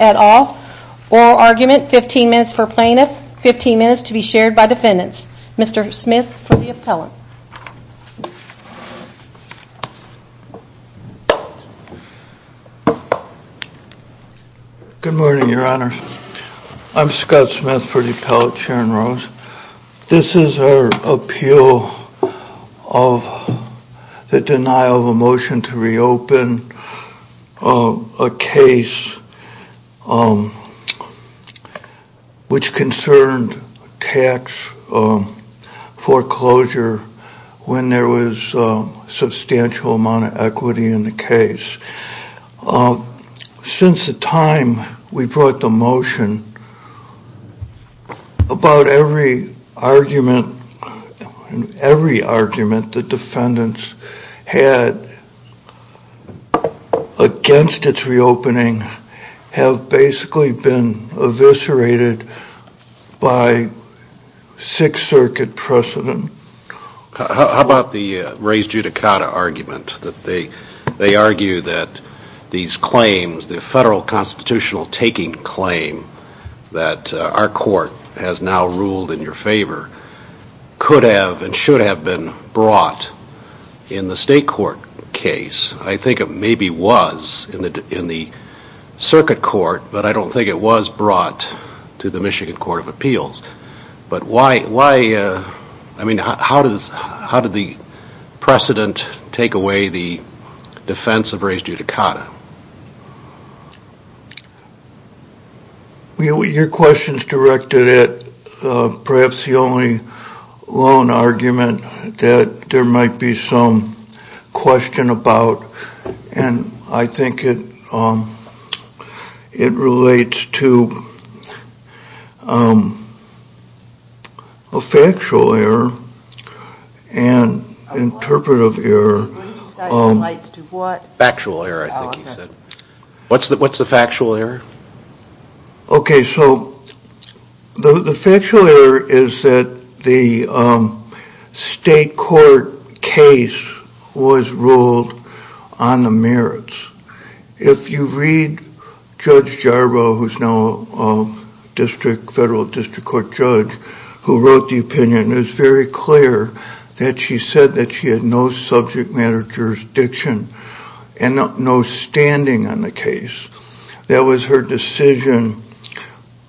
at all. Oral argument, 15 minutes for plaintiff, 15 minutes to be shared by defendants. Mr. Smith for the appellate. Good morning, your honors. I'm Scott Smith for the appellate, Aaron Rose. This is our appeal of the denial of a motion to reopen a case which concerned tax foreclosure when there was a substantial amount of equity in the case. Since the time we brought the motion, about every argument, every argument the defendants had against its reopening have basically been eviscerated by Sixth Circuit precedent. How about the original taking claim that our court has now ruled in your favor could have and should have been brought in the state court case. I think it maybe was in the circuit court, but I don't think it was brought to the Michigan Court of Appeals. But why, I mean, how did the precedent take away the defense of raised judicata? Your question is directed at perhaps the only lone argument that there might be some question about and I think it relates to a factual error and interpretive error. Factual error, I think he said. What's the factual error? Okay, so the factual error is that the state court case was ruled on the merits. If you read Judge Jarboe, who's now a federal district court judge, who wrote the opinion, it was very clear that she said that she had no subject matter jurisdiction and no standing on the case. That was her decision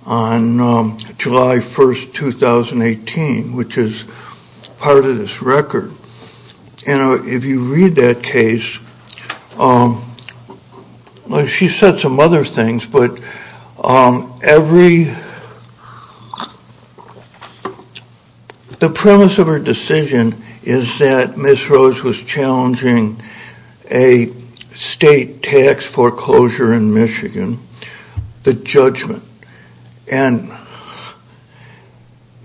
on July 1st, 2018, which is part of this record. And if you read that case, she said some other things, but the premise of her decision is that Ms. Rose was challenging a state tax foreclosure in Michigan, the judgment. And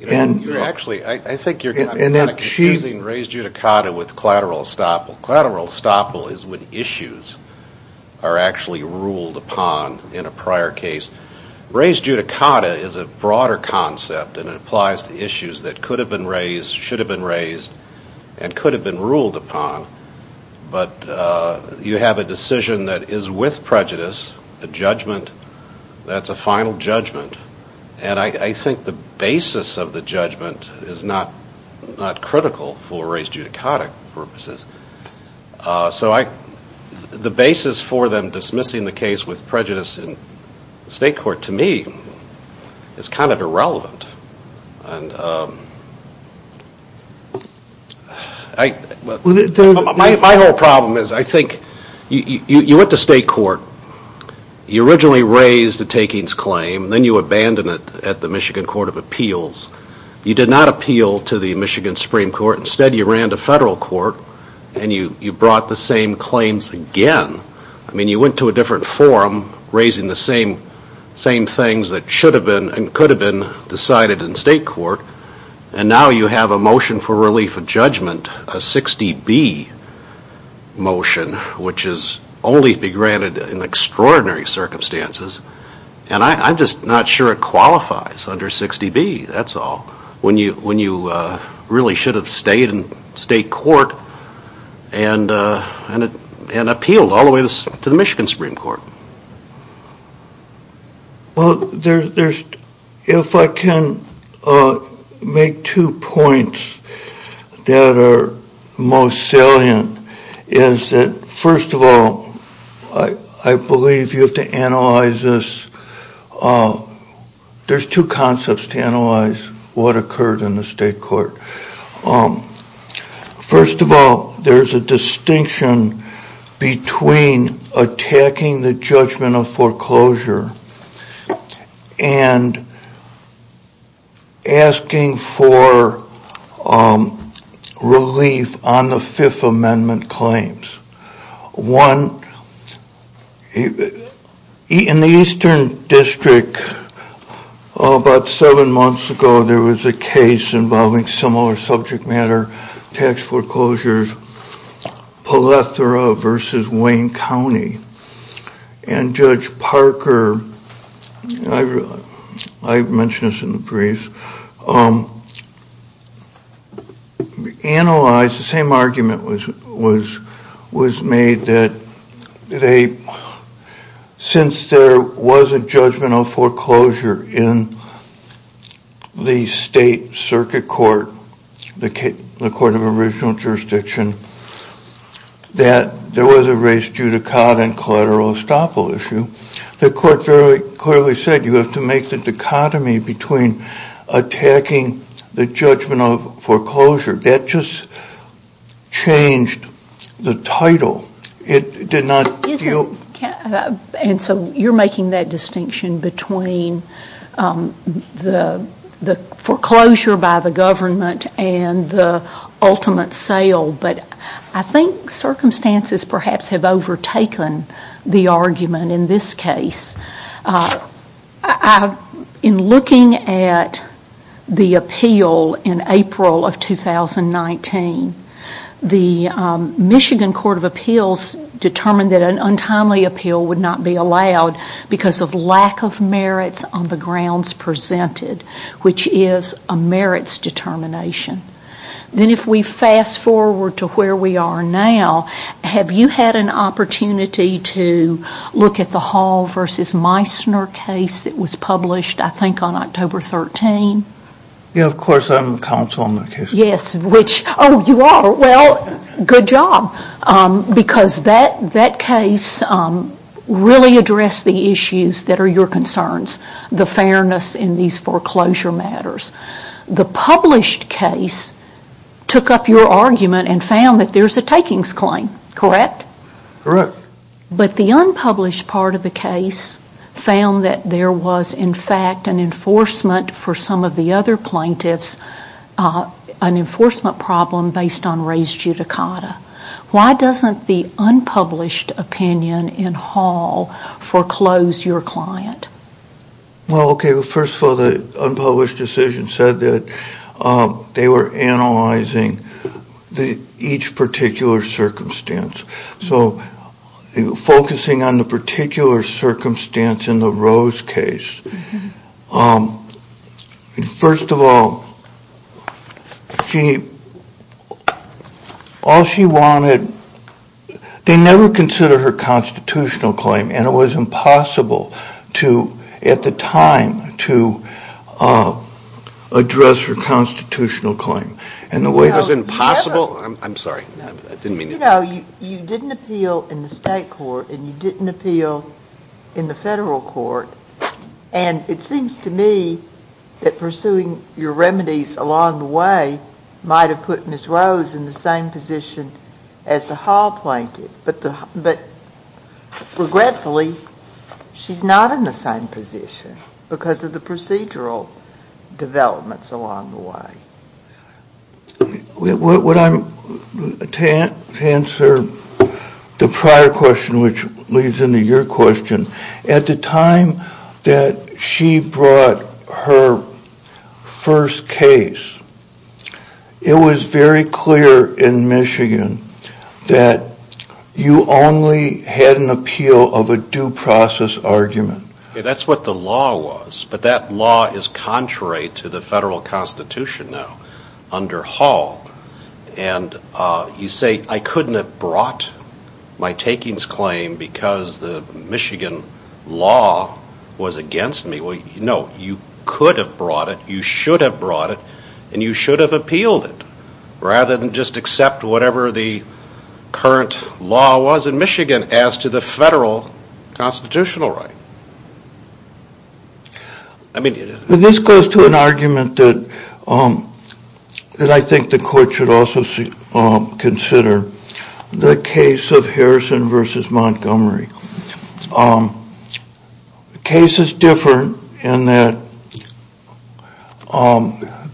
actually, I think you're confusing raised judicata with collateral estoppel. Collateral estoppel is when issues are actually ruled upon in a prior case. Raised judicata is a broader concept and it applies to issues that could have been raised, should have been raised, and could have been ruled upon. But you have a decision that is with prejudice, a judgment that's a final judgment. And I think the basis of the judgment is not critical for the case. So the basis for them dismissing the case with prejudice in state court, to me, is kind of irrelevant. My whole problem is, I think, you went to state court, you originally raised the takings claim, then you abandoned it at the Michigan Court of Appeals. You did not appeal to the Michigan Supreme Court. Instead, you ran to federal court and you brought the same claims again. I mean, you went to a different forum, raising the same things that should have been and could have been decided in state court. And now you have a motion for relief of judgment, a 60B motion, which is only to be granted in extraordinary circumstances. And I'm just not sure it qualifies under 60B, that's all, when you really should have stayed in state court and appealed all the way to the Michigan Supreme Court. Well, if I can make two points that are most salient, is that first of all, I believe you have to analyze this. There's two concepts to analyze what occurred in the state court. First of all, there's a distinction between attacking the judgment of foreclosure and asking for relief on the Fifth Amendment claims. One, in the Eastern District, about seven months ago, there was a case involving similar subject matter tax foreclosures, Palethora versus Wayne County. And Judge Parker, I mentioned this in the briefs, analyzed the same argument was made that since there was a judgment of foreclosure in the state circuit court, the court of original jurisdiction, that there was a race judicata and collateral estoppel issue. The court clearly said you have to make the dichotomy between attacking the judgment of foreclosure. That just changed the title. It did not... And so you're making that distinction between the foreclosure by the government and the ultimate sale. But I think circumstances perhaps have overtaken the argument in this case. In looking at the appeal in April of 2019, the Michigan Court of Appeals determined that an untimely appeal would not be allowed because of lack of merits on the grounds presented, which is a merits determination. Then if we fast forward to where we are now, have you had an opportunity to look at the Hall versus Meissner case that was published, I think, on October 13? Yes, of course, I'm counsel on that case. Yes, which... Oh, you are? Well, good job, because that case really addressed the issues that are your concerns, the fairness in these foreclosure matters. The published case took up your argument and found that there's a takings claim, correct? Correct. But the unpublished part of the case found that there was in fact an enforcement problem based on res judicata. Why doesn't the unpublished opinion in Hall foreclose your client? Well, okay, first of all, the unpublished decision said that they were analyzing each particular circumstance. So focusing on the particular circumstance in the Rose case, first of all, all she wanted, they never considered her constitutional claim, and it was impossible to, at the time, to address her constitutional claim. And the way... It was impossible? I'm sorry. I didn't mean to... You know, you didn't appeal in the state court and you didn't appeal in the And it seems to me that pursuing your remedies along the way might have put Ms. Rose in the same position as the Hall plaintiff, but regretfully, she's not in the same position because of the procedural developments along the way. To answer the prior question, which leads into your question, at the time that she brought her first case, it was very clear in Michigan that you only had an appeal of a due process argument. That's what the law was, but that law is contrary to the federal constitution now under Hall. And you say, I couldn't have brought my takings claim because the Michigan law was against me. Well, no, you could have brought it, you should have brought it, and you should have appealed it rather than just accept whatever the Michigan as to the federal constitutional right. This goes to an argument that I think the court should also consider. The case of Harrison v. Montgomery. The case is different in that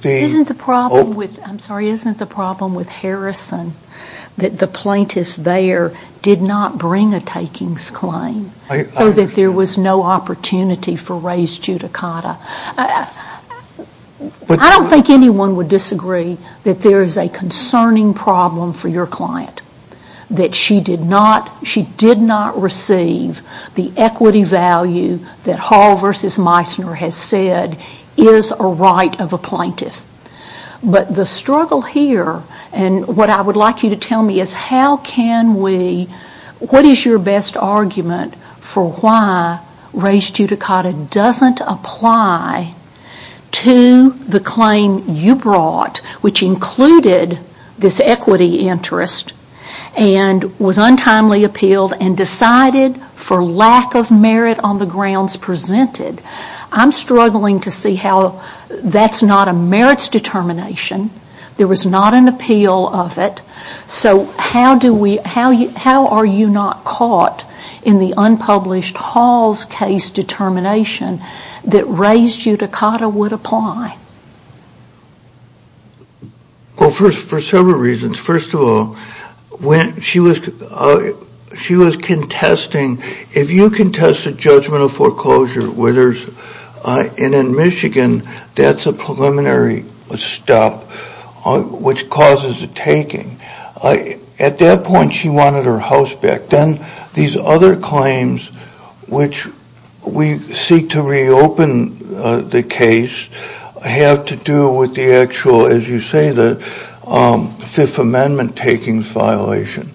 the... bring a takings claim so that there was no opportunity for raised judicata. I don't think anyone would disagree that there is a concerning problem for your client, that she did not receive the equity value that Hall v. Meissner has said is a right of a plaintiff. But the struggle here, and what I would like you to tell me is how can we, what is your best argument for why raised judicata doesn't apply to the claim you brought, which included this equity interest and was untimely appealed and decided for lack of merit on the grounds presented. I'm struggling to see how that's not a merits determination, there was not an appeal of it, so how do we, how are you not caught in the unpublished Hall's case determination that raised judicata would apply? Well, for several reasons. First of all, when she was contesting, if you contested judgmental foreclosure, where there's, and in Michigan, that's a preliminary stop, which causes a taking. At that point, she wanted her house back. Then these other claims, which we seek to reopen the case, have to do with the actual, as you say, the Fifth Amendment taking violation.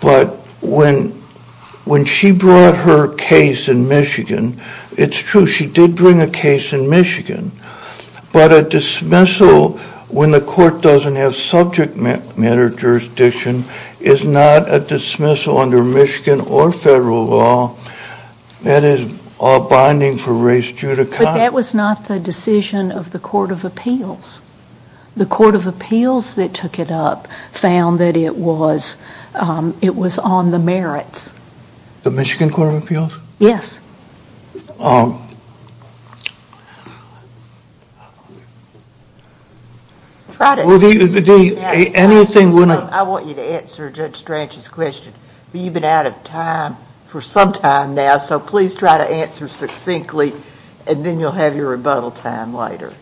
But when she brought her case in Michigan, it's true, she did bring a case in Michigan, but a dismissal when the court doesn't have subject matter jurisdiction is not a dismissal under Michigan or federal law, that is a binding for raised judicata. That was not the decision of the Court of Appeals. The Court of Appeals that took it up found that it was on the merits. The Michigan Court of Appeals? Yes. Try to... Well, Dee, anything... I want you to answer Judge Strachan's question, but you've been out of time for some time now, so please try to answer succinctly, and then you'll have your rebuttal time later.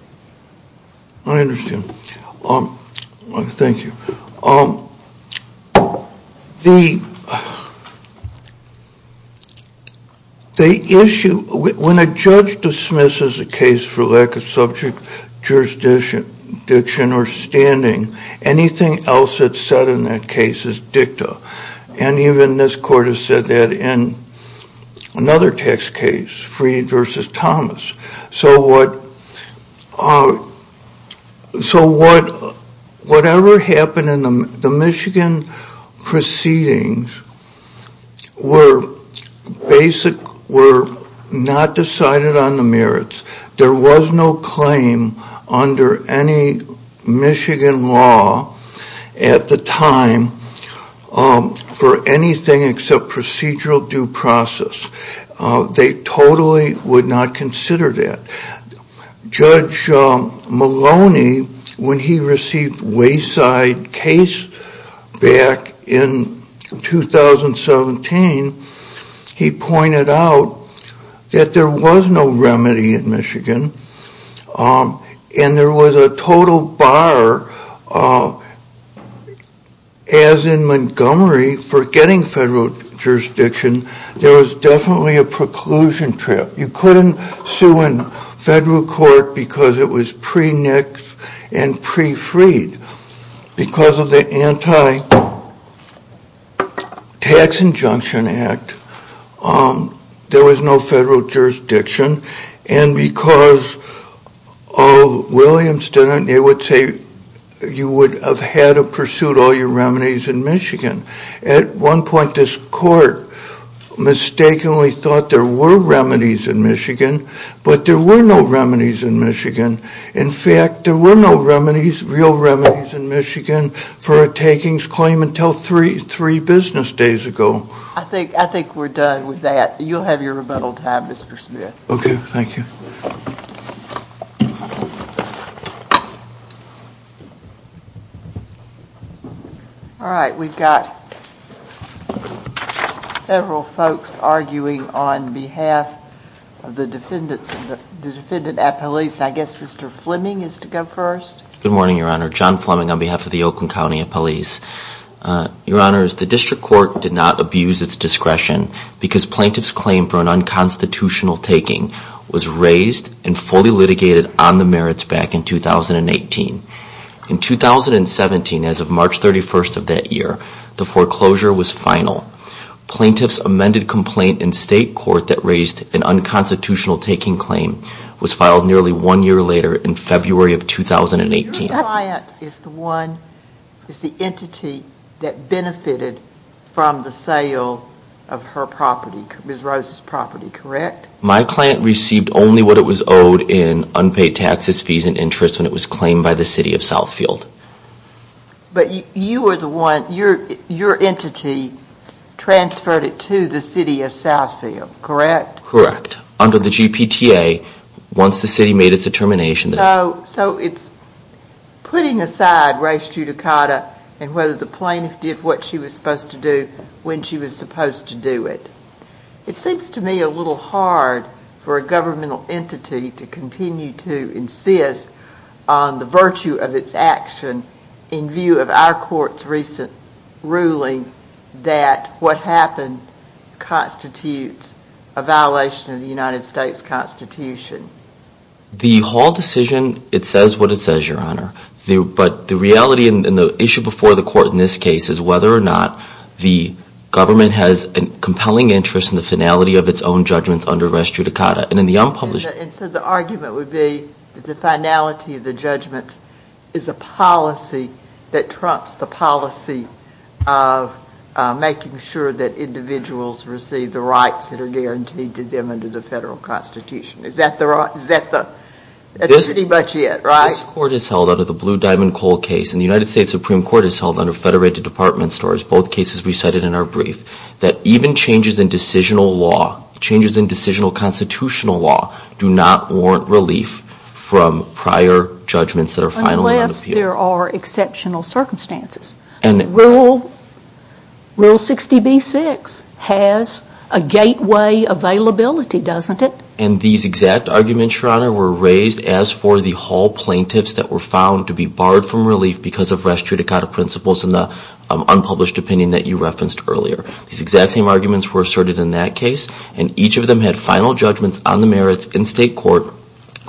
I understand. Thank you. The issue, when a judge dismisses a case for lack of subject jurisdiction or standing, anything else that's said in that case is dicta. And even this Court has said that in another tax case, Freed v. Thomas. So whatever happened in the Michigan proceedings were not decided on the merits. There was no claim under any Michigan law at the time for anything except procedural due process. They totally would not consider that. Judge Maloney, when he received Wayside case back in 2017, he pointed out that there was no remedy in Michigan, and there was a total bar, as in Montgomery, for getting federal jurisdiction. There was definitely a preclusion trip. You couldn't sue in federal court because it was pre-nix and pre-Freed. Because of the Anti-Tax Injunction Act, there was no federal jurisdiction, and because of Williamston, they would say you would have had to pursue all your remedies in Michigan. At one point, this Court mistakenly thought there were remedies in Michigan, but there were no remedies in Michigan. In fact, there were no real remedies in Michigan for a takings claim until three business days ago. I think we're done with that. You'll have your rebuttal time, Mr. Smith. Okay, thank you. All right, we've got several folks arguing on behalf of the defendant at police. I guess Mr. Fleming is to go first. Good morning, Your Honor. John Fleming on behalf of the Oakland County Police. Your Honors, the District Court did not abuse its discretion because plaintiff's claim for an unconstitutional taking was raised and fully litigated on the merits back in 2018. In 2017, as of March 31st of that year, the foreclosure was final. Plaintiff's amended complaint in state court that raised an unconstitutional taking claim was filed nearly one year later in February of 2018. Your client is the one, is the entity that benefited from the sale of her property, Ms. Rose's property, correct? My client received only what it was owed in unpaid taxes, fees, and interest when it was claimed by the city of Southfield. But you were the one, your entity transferred it to the city of Southfield, correct? Correct. Under the GPTA, once the city made its determination... So it's putting aside race judicata and whether the plaintiff did what she was supposed to do when she was supposed to do it. It seems to me a little hard for a governmental entity to continue to insist on the virtue of its action in view of our court's recent ruling that what happened constitutes a violation of the United States Constitution. The whole decision, it says what it says, Your Honor. But the reality and the issue before the court in this case is whether or not the government has a compelling interest in the finality of its own judgments under race judicata. And in the unpublished... And so the argument would be that the finality of the judgments is a policy that trumps the policy of making sure that individuals receive the rights that are guaranteed to them under the federal constitution. Is that pretty much it, right? This court has held under the Blue Diamond Coal case, and the United States Supreme Court has held under federated department stores, both cases we cited in our brief, that even changes in decisional law, changes in decisional constitutional law, do not warrant relief from prior judgments that are finally unappealed. Unless there are exceptional circumstances. Rule 60b-6 has a gateway availability, doesn't it? And these exact arguments, Your Honor, were raised as for the whole plaintiffs that were found to be barred from relief because of race judicata principles in the unpublished opinion that you referenced earlier. These exact same arguments were asserted in that case, and each of them had final judgments on the merits in state court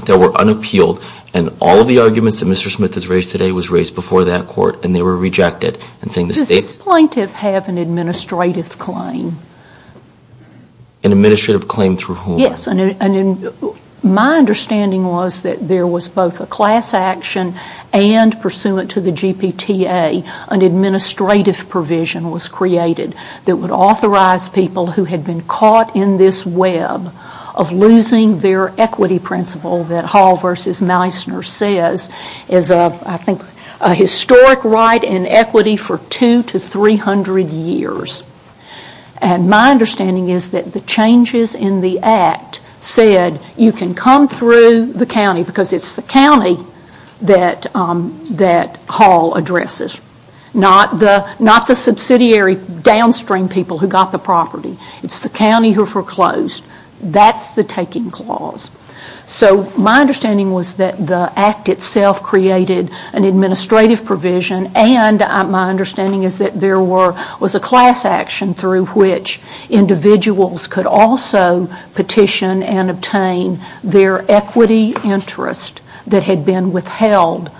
that were unappealed. And all of the arguments that Mr. Smith has raised today was raised before that court, and they were rejected. Does this plaintiff have an administrative claim? An administrative claim through whom? Yes. My understanding was that there was both a class action and, pursuant to the GPTA, an administrative provision was created that would authorize people who had been caught in this web of losing their equity principle that Hall v. Meissner says is, I think, a historic right in equity for 200 to 300 years. And my understanding is that the changes in the Act said you can come through the county because it's the county that Hall addresses, not the subsidiary downstream people who got the property. It's the county who foreclosed. That's the taking clause. So my understanding was that the Act itself created an administrative provision and my understanding is that there was a class action through which individuals could also petition and obtain their equity interest that had been withheld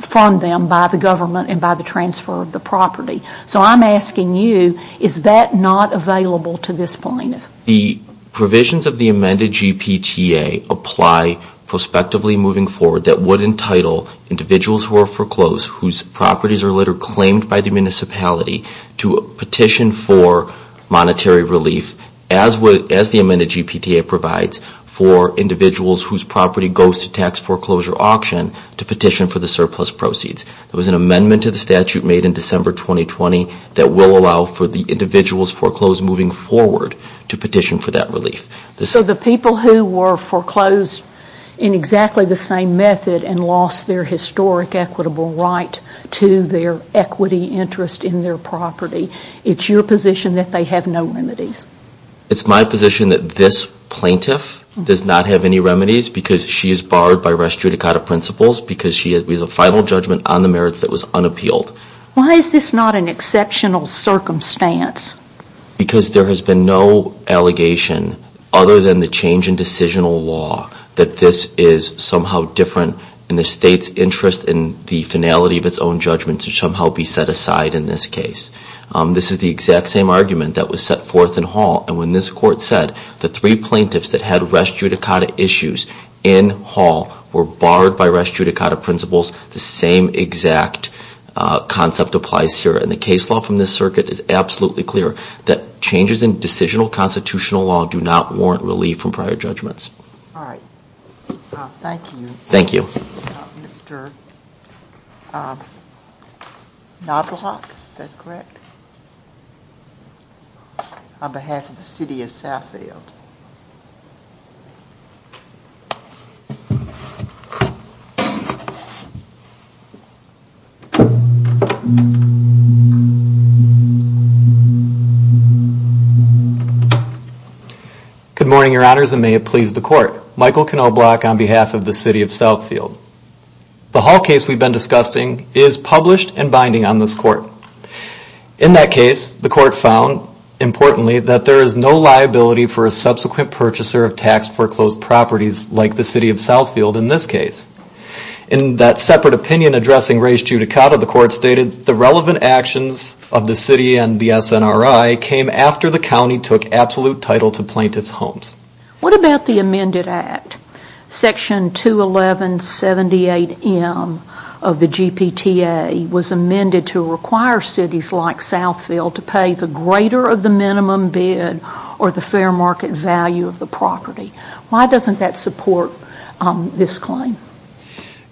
from them by the government and by the transfer of the property. So I'm asking you, is that not available to this plaintiff? The provisions of the amended GPTA apply prospectively moving forward that would entitle individuals who are foreclosed whose properties are later claimed by the municipality to petition for monetary relief as the amended GPTA provides for individuals whose property goes to tax foreclosure auction to petition for the surplus proceeds. There was an amendment to the statute made in December 2020 that will allow for the individuals foreclosed moving forward to petition for that relief. So the people who were foreclosed in exactly the same method and lost their historic equitable right to their equity interest in their property, it's your position that they have no remedies? It's my position that this plaintiff does not have any remedies because she is barred by res judicata principles because she has a final judgment on the merits that was unappealed. Why is this not an exceptional circumstance? Because there has been no allegation other than the change in decisional law that this is somehow different in the state's interest in the finality of its own judgment to somehow be set aside in this case. This is the exact same argument that was set forth in Hall and when this court said the three plaintiffs that had res judicata issues in Hall were barred by res judicata principles, the same exact concept applies here. And the case law from this circuit is absolutely clear that changes in decisional constitutional law do not warrant relief from prior judgments. All right. Thank you. Thank you. Mr. Knobloch, is that correct? On behalf of the city of Saffield. Good morning, your honors, and may it please the court. Michael Knobloch on behalf of the city of Saffield. The Hall case we've been discussing is published and binding on this court. In that case, the court found, importantly, that there is no liability for a subsequent purchaser of tax-for-closed properties like the city of Saffield in this case. In that separate opinion addressing res judicata, the court stated the relevant action of the city of Saffield and the SNRI came after the county took absolute title to plaintiff's homes. What about the amended act? Section 211.78M of the GPTA was amended to require cities like Saffield to pay the greater of the minimum bid or the fair market value of the property. Why doesn't that support this claim?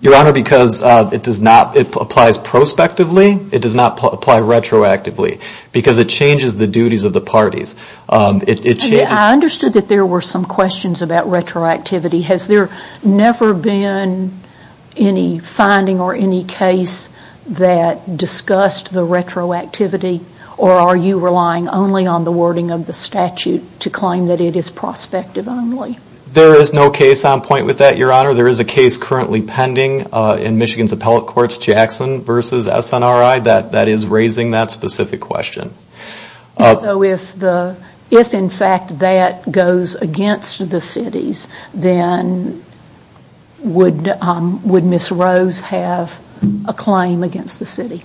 Your honor, because it applies prospectively. It does not apply retroactively because it changes the duties of the parties. I understood that there were some questions about retroactivity. Has there never been any finding or any case that discussed the retroactivity or are you relying only on the wording of the statute to claim that it is prospective only? There is no case on point with that, your honor. Your honor, there is a case currently pending in Michigan's appellate courts, Jackson v. SNRI, that is raising that specific question. So if in fact that goes against the cities, then would Ms. Rose have a claim against the city?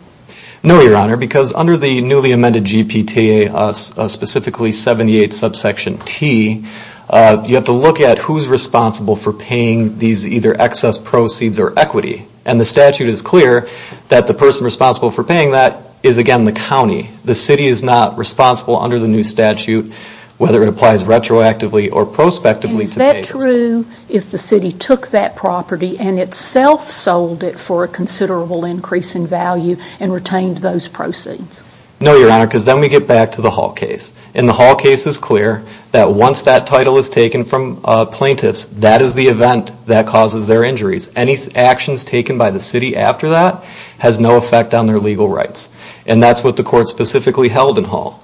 No, your honor, because under the newly amended GPTA, specifically 78 subsection T, you have to look at who is responsible for paying these either excess proceeds or equity. And the statute is clear that the person responsible for paying that is, again, the county. The city is not responsible under the new statute, whether it applies retroactively or prospectively. Is that true if the city took that property and itself sold it for a considerable increase in value and retained those proceeds? No, your honor, because then we get back to the Hall case. And the Hall case is clear that once that title is taken from plaintiffs, that is the event that causes their injuries. Any actions taken by the city after that has no effect on their legal rights. And that is what the court specifically held in Hall.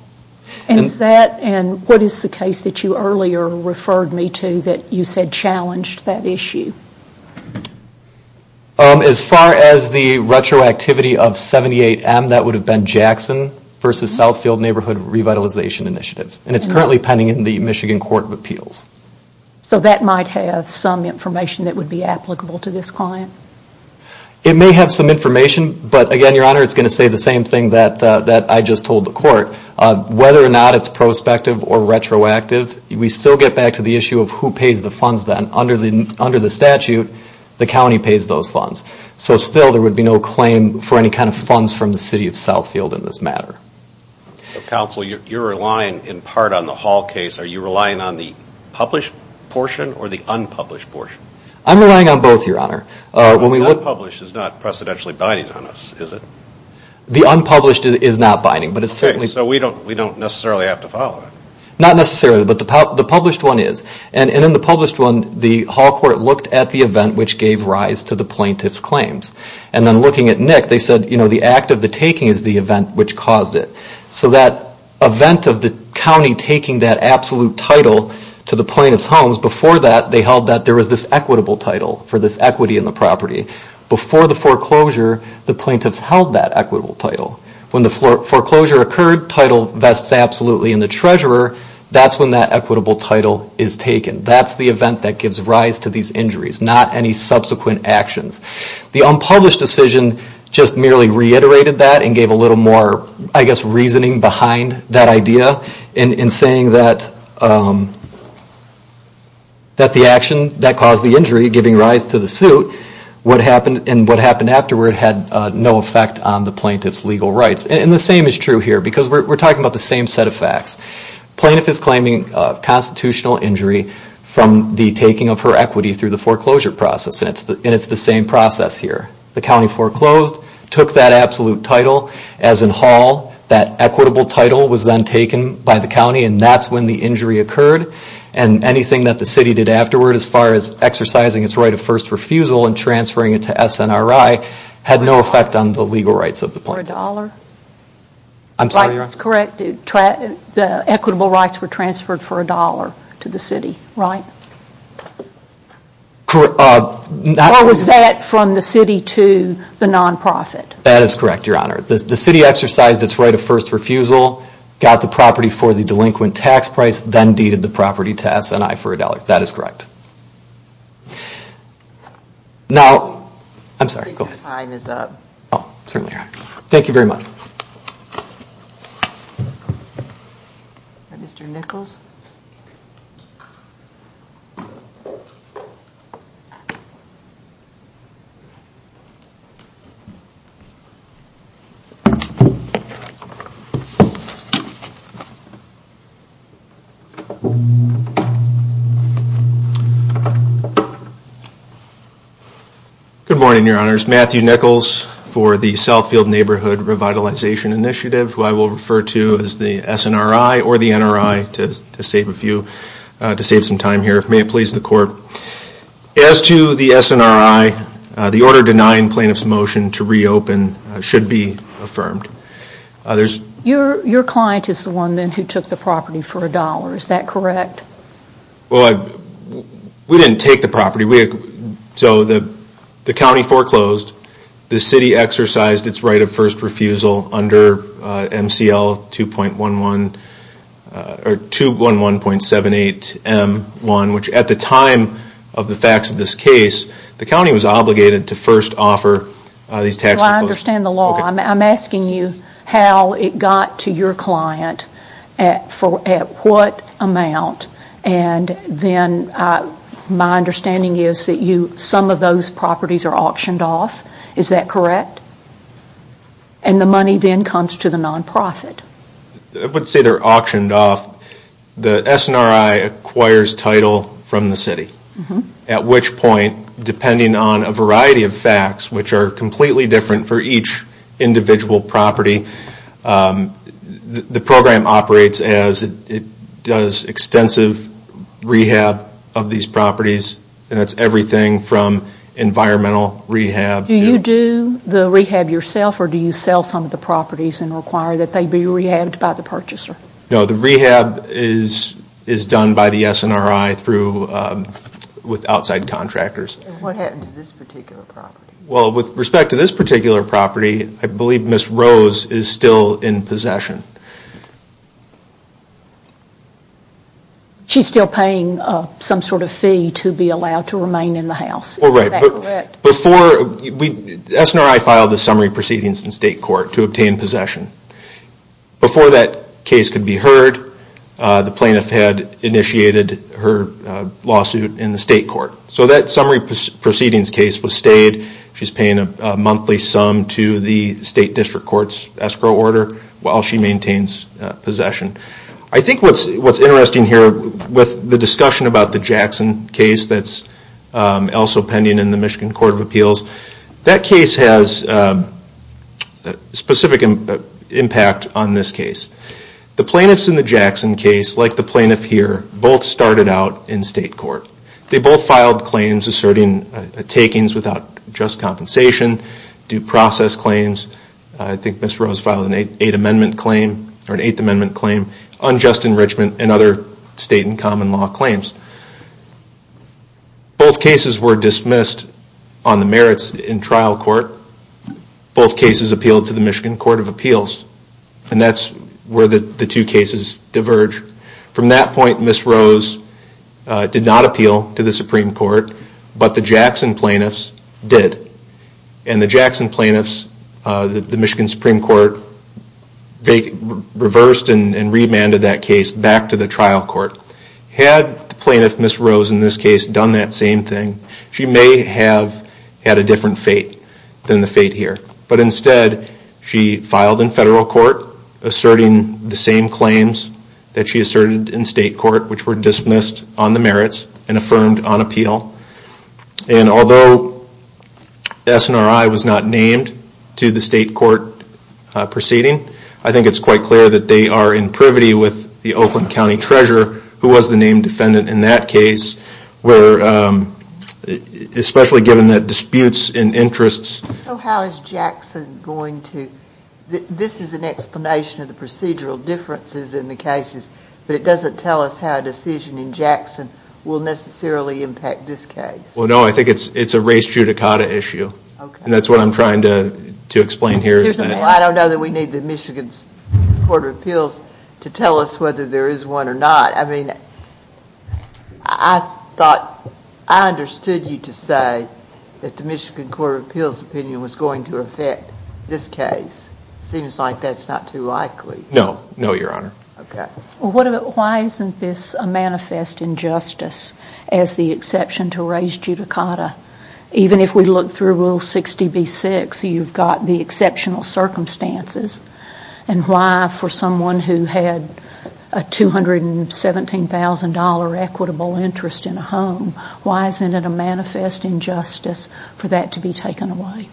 And what is the case that you earlier referred me to that you said challenged that issue? As far as the retroactivity of 78M, that would have been Jackson v. Southfield Neighborhood Revitalization Initiative. And it is currently pending in the Michigan Court of Appeals. So that might have some information that would be applicable to this client? It may have some information, but, again, your honor, it is going to say the same thing that I just told the court. Whether or not it is prospective or retroactive, we still get back to the issue of who pays the funds then. Under the statute, the county pays those funds. So still there would be no claim for any kind of funds from the city of Southfield in this matter. Counsel, you are relying in part on the Hall case. Are you relying on the published portion or the unpublished portion? I am relying on both, your honor. The unpublished is not precedentially binding on us, is it? The unpublished is not binding. So we don't necessarily have to follow it? Not necessarily, but the published one is. And in the published one, the Hall court looked at the event which gave rise to the plaintiff's claims. And then looking at Nick, they said, you know, the act of the taking is the event which caused it. So that event of the county taking that absolute title to the plaintiff's homes, before that they held that there was this equitable title for this equity in the property. Before the foreclosure, the plaintiffs held that equitable title. When the foreclosure occurred, title vests absolutely in the treasurer. That's when that equitable title is taken. That's the event that gives rise to these injuries, not any subsequent actions. The unpublished decision just merely reiterated that and gave a little more, I guess, reasoning behind that idea in saying that the action that caused the injury giving rise to the suit and what happened afterward had no effect on the plaintiff's legal rights. And the same is true here because we're talking about the same set of facts. Plaintiff is claiming constitutional injury from the taking of her equity through the foreclosure process and it's the same process here. The county foreclosed, took that absolute title, as in Hall, that equitable title was then taken by the county and that's when the injury occurred and anything that the city did afterward as far as exercising its right of first refusal and transferring it to SNRI had no effect on the legal rights of the plaintiff. For a dollar? I'm sorry, Your Honor? That's correct. The equitable rights were transferred for a dollar to the city, right? Correct. Or was that from the city to the non-profit? That is correct, Your Honor. The city exercised its right of first refusal, got the property for the delinquent tax price, then deeded the property to SNRI for a dollar. That is correct. Now, I'm sorry, go ahead. I think your time is up. Thank you very much. Mr. Nichols. Good morning, Your Honors. Matthew Nichols for the Southfield Neighborhood Revitalization Initiative, who I will refer to as the SNRI or the NRI to save some time here. May it please the Court. As to the SNRI, the order denying plaintiff's motion to reopen should be affirmed. Your client is the one then who took the property for a dollar, is that correct? Well, we didn't take the property. So the county foreclosed. The city exercised its right of first refusal under MCL 211.78M1, which at the time of the facts of this case, the county was obligated to first offer these taxes. Well, I understand the law. I'm asking you how it got to your client, at what amount, and then my understanding is that some of those properties are auctioned off. Is that correct? And the money then comes to the non-profit. I would say they're auctioned off. The SNRI acquires title from the city, at which point, depending on a variety of facts, which are completely different for each individual property, the program operates as it does extensive rehab of these properties, and that's everything from environmental rehab. Do you do the rehab yourself, or do you sell some of the properties and require that they be rehabbed by the purchaser? No, the rehab is done by the SNRI with outside contractors. What happened to this particular property? Well, with respect to this particular property, I believe Ms. Rose is still in possession. She's still paying some sort of fee to be allowed to remain in the house. Oh, right. SNRI filed the summary proceedings in state court to obtain possession. Before that case could be heard, the plaintiff had initiated her lawsuit in the state court. So that summary proceedings case was stayed. She's paying a monthly sum to the state district court's escrow order while she maintains possession. I think what's interesting here with the discussion about the Jackson case that's also pending in the Michigan Court of Appeals, that case has a specific impact on this case. The plaintiffs in the Jackson case, like the plaintiff here, both started out in state court. They both filed claims asserting takings without just compensation, due process claims. I think Ms. Rose filed an Eighth Amendment claim, unjust enrichment, and other state and common law claims. Both cases were dismissed on the merits in trial court. Both cases appealed to the Michigan Court of Appeals, and that's where the two cases diverge. From that point, Ms. Rose did not appeal to the Supreme Court, but the Jackson plaintiffs did. And the Jackson plaintiffs, the Michigan Supreme Court, reversed and remanded that case back to the trial court. Had the plaintiff, Ms. Rose, in this case done that same thing, she may have had a different fate than the fate here. But instead, she filed in federal court asserting the same claims that she asserted in state court, which were dismissed on the merits and affirmed on appeal. And although SNRI was not named to the state court proceeding, I think it's quite clear that they are in privity with the Oakland County Treasurer, who was the named defendant in that case, especially given that disputes and interests... So how is Jackson going to... This is an explanation of the procedural differences in the cases, but it doesn't tell us how a decision in Jackson will necessarily impact this case. Well, no, I think it's a race judicata issue. And that's what I'm trying to explain here. I don't know that we need the Michigan Court of Appeals to tell us whether there is one or not. I mean, I thought I understood you to say that the Michigan Court of Appeals opinion was going to affect this case. It seems like that's not too likely. No. No, Your Honor. Okay. Why isn't this a manifest injustice as the exception to race judicata? Even if we look through Rule 60b-6, you've got the exceptional circumstances. And why, for someone who had a $217,000 equitable interest in a home, why isn't it a manifest injustice for that to be taken away?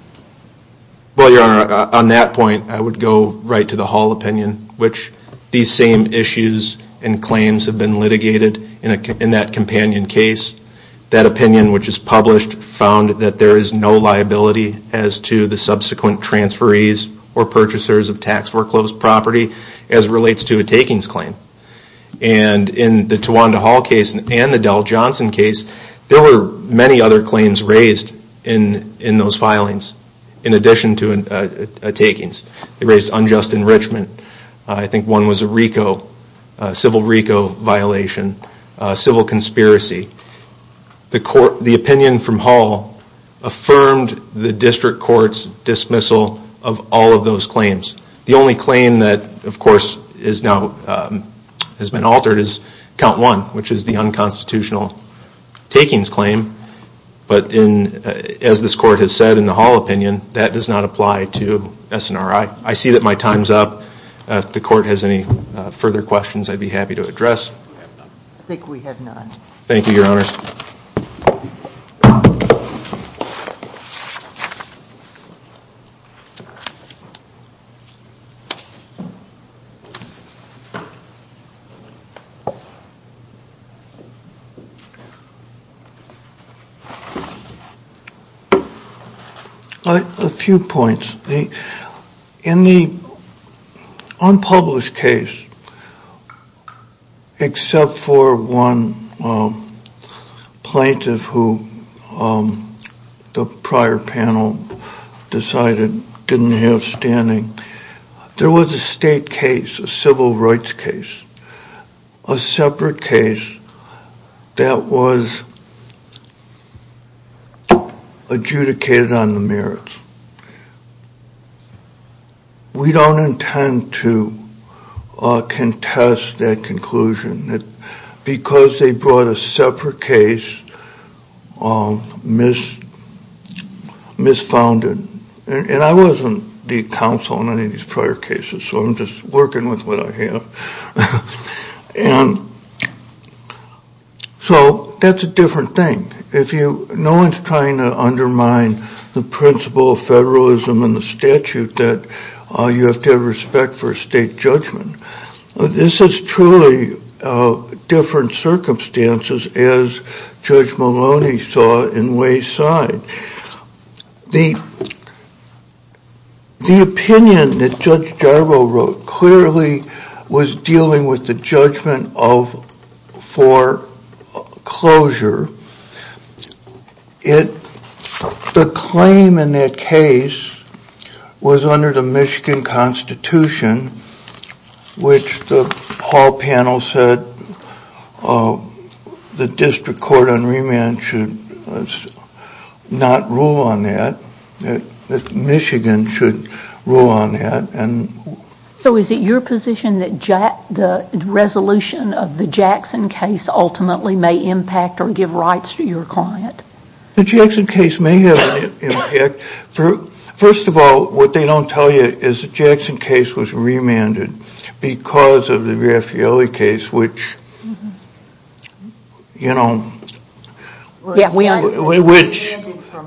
Well, Your Honor, on that point, I would go right to the Hall opinion, which these same issues and claims have been litigated in that companion case. That opinion, which is published, found that there is no liability as to the subsequent transferees or purchasers of tax-workloads property as relates to a takings claim. And in the Tawanda Hall case and the Dell Johnson case, there were many other claims raised in those filings in addition to takings. They raised unjust enrichment. I think one was a RICO, a civil RICO violation, a civil conspiracy. The opinion from Hall affirmed the district court's dismissal of all of those claims. The only claim that, of course, has been altered is Count 1, which is the unconstitutional takings claim. But as this court has said in the Hall opinion, that does not apply to SNRI. I see that my time's up. If the court has any further questions, I'd be happy to address. I think we have none. Thank you, Your Honors. A few points. In the unpublished case, except for one plaintiff who the prior panel decided didn't have standing, there was a state case, a civil rights case, a separate case that was adjudicated on the merits. We don't intend to contest that conclusion because they brought a separate case misfounded. And I wasn't the counsel on any of these prior cases, so I'm just working with what I have. So that's a different thing. No one's trying to undermine the principle of federalism and the statute that you have to have respect for state judgment. This is truly different circumstances as Judge Maloney saw it in Wayside. The opinion that Judge Jarboe wrote clearly was dealing with the judgment for closure. The claim in that case was under the Michigan Constitution, which the hall panel said the district court on remand should not rule on that, that Michigan should rule on that. So is it your position that the resolution of the Jackson case ultimately may impact or give rights to your client? The Jackson case may have an impact. First of all, what they don't tell you is the Jackson case was remanded because of the Raffaelli case, which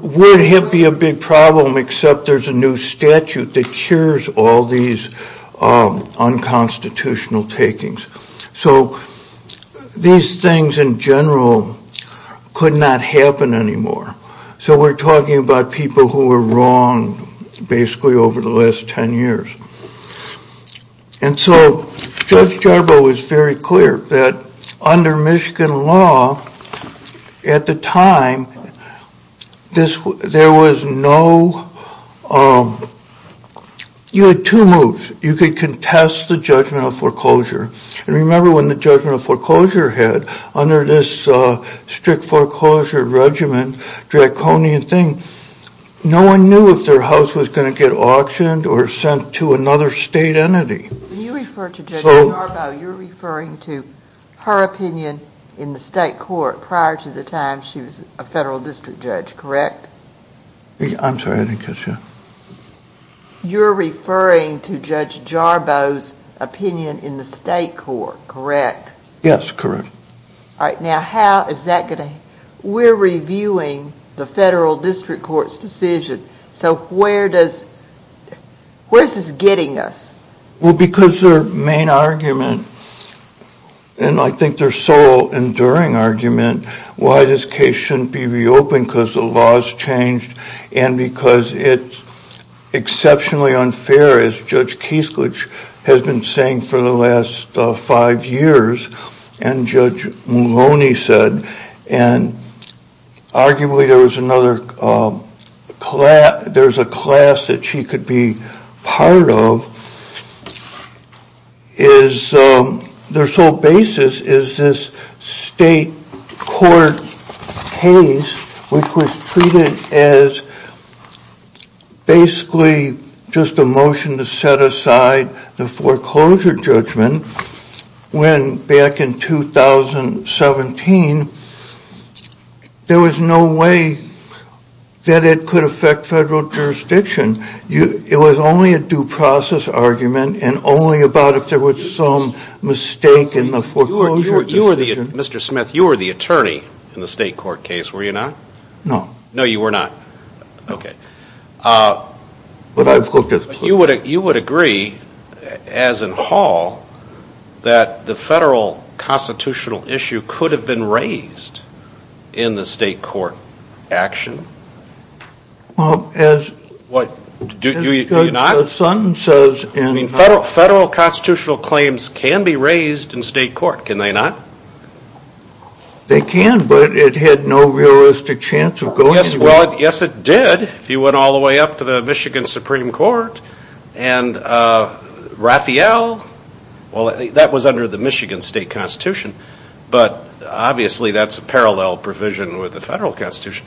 would be a big problem, except there's a new statute that cures all these unconstitutional takings. So these things in general could not happen anymore. So we're talking about people who were wrong basically over the last 10 years. And so Judge Jarboe was very clear that under Michigan law at the time, you had two moves. You could contest the judgment of foreclosure. Remember when the judgment of foreclosure had, under this strict foreclosure regimen, draconian thing, no one knew if their house was going to get auctioned or sent to another state entity. When you refer to Judge Jarboe, you're referring to her opinion in the state court prior to the time she was a federal district judge, correct? I'm sorry, I didn't catch that. You're referring to Judge Jarboe's opinion in the state court, correct? Yes, correct. All right, now how is that going to, we're reviewing the federal district court's decision. So where does, where is this getting us? Well, because their main argument, and I think their sole enduring argument, why this case shouldn't be reopened because the law has changed and because it's exceptionally unfair, as Judge Keislich has been saying for the last five years, and Judge Maloney said, and arguably there was another class, there's a class that she could be part of, is their sole basis is this state court case, which was treated as basically just a motion to set aside the foreclosure judgment, when back in 2017 there was no way that it could affect federal jurisdiction. It was only a due process argument and only about if there was some mistake in the foreclosure decision. Mr. Smith, you were the attorney in the state court case, were you not? No. No, you were not. Okay. But I've looked at the case. You would agree, as in Hall, that the federal constitutional issue could have been raised in the state court action? Well, as Judge's son says. Federal constitutional claims can be raised in state court, can they not? They can, but it had no realistic chance of going anywhere. Yes, it did. If you went all the way up to the Michigan Supreme Court and Raphael, well, that was under the Michigan state constitution, but obviously that's a parallel provision with the federal constitution.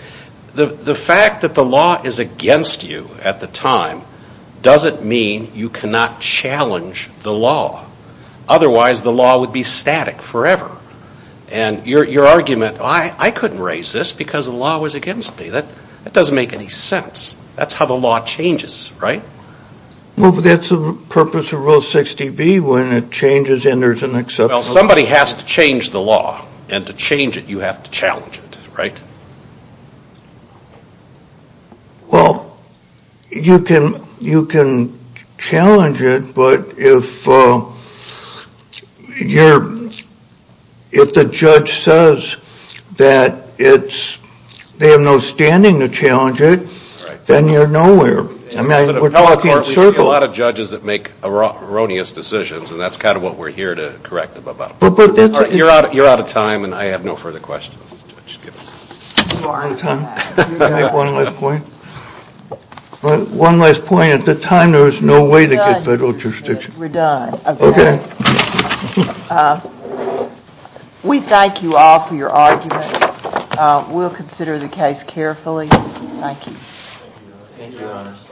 The fact that the law is against you at the time doesn't mean you cannot challenge the law. Otherwise, the law would be static forever. And your argument, I couldn't raise this because the law was against me. That doesn't make any sense. That's how the law changes, right? Well, but that's the purpose of Rule 60B, when it changes and there's an exception. Well, somebody has to change the law, and to change it you have to challenge it, right? Well, you can challenge it, but if the judge says that they have no standing to challenge it, then you're nowhere. I mean, we're talking in circles. There are a lot of judges that make erroneous decisions, and that's kind of what we're here to correct them about. You're out of time, and I have no further questions. One last point. One last point. At the time, there was no way to get federal jurisdiction. We're done. Okay. We thank you all for your arguments. We'll consider the case carefully. Thank you. Thank you, Your Honors.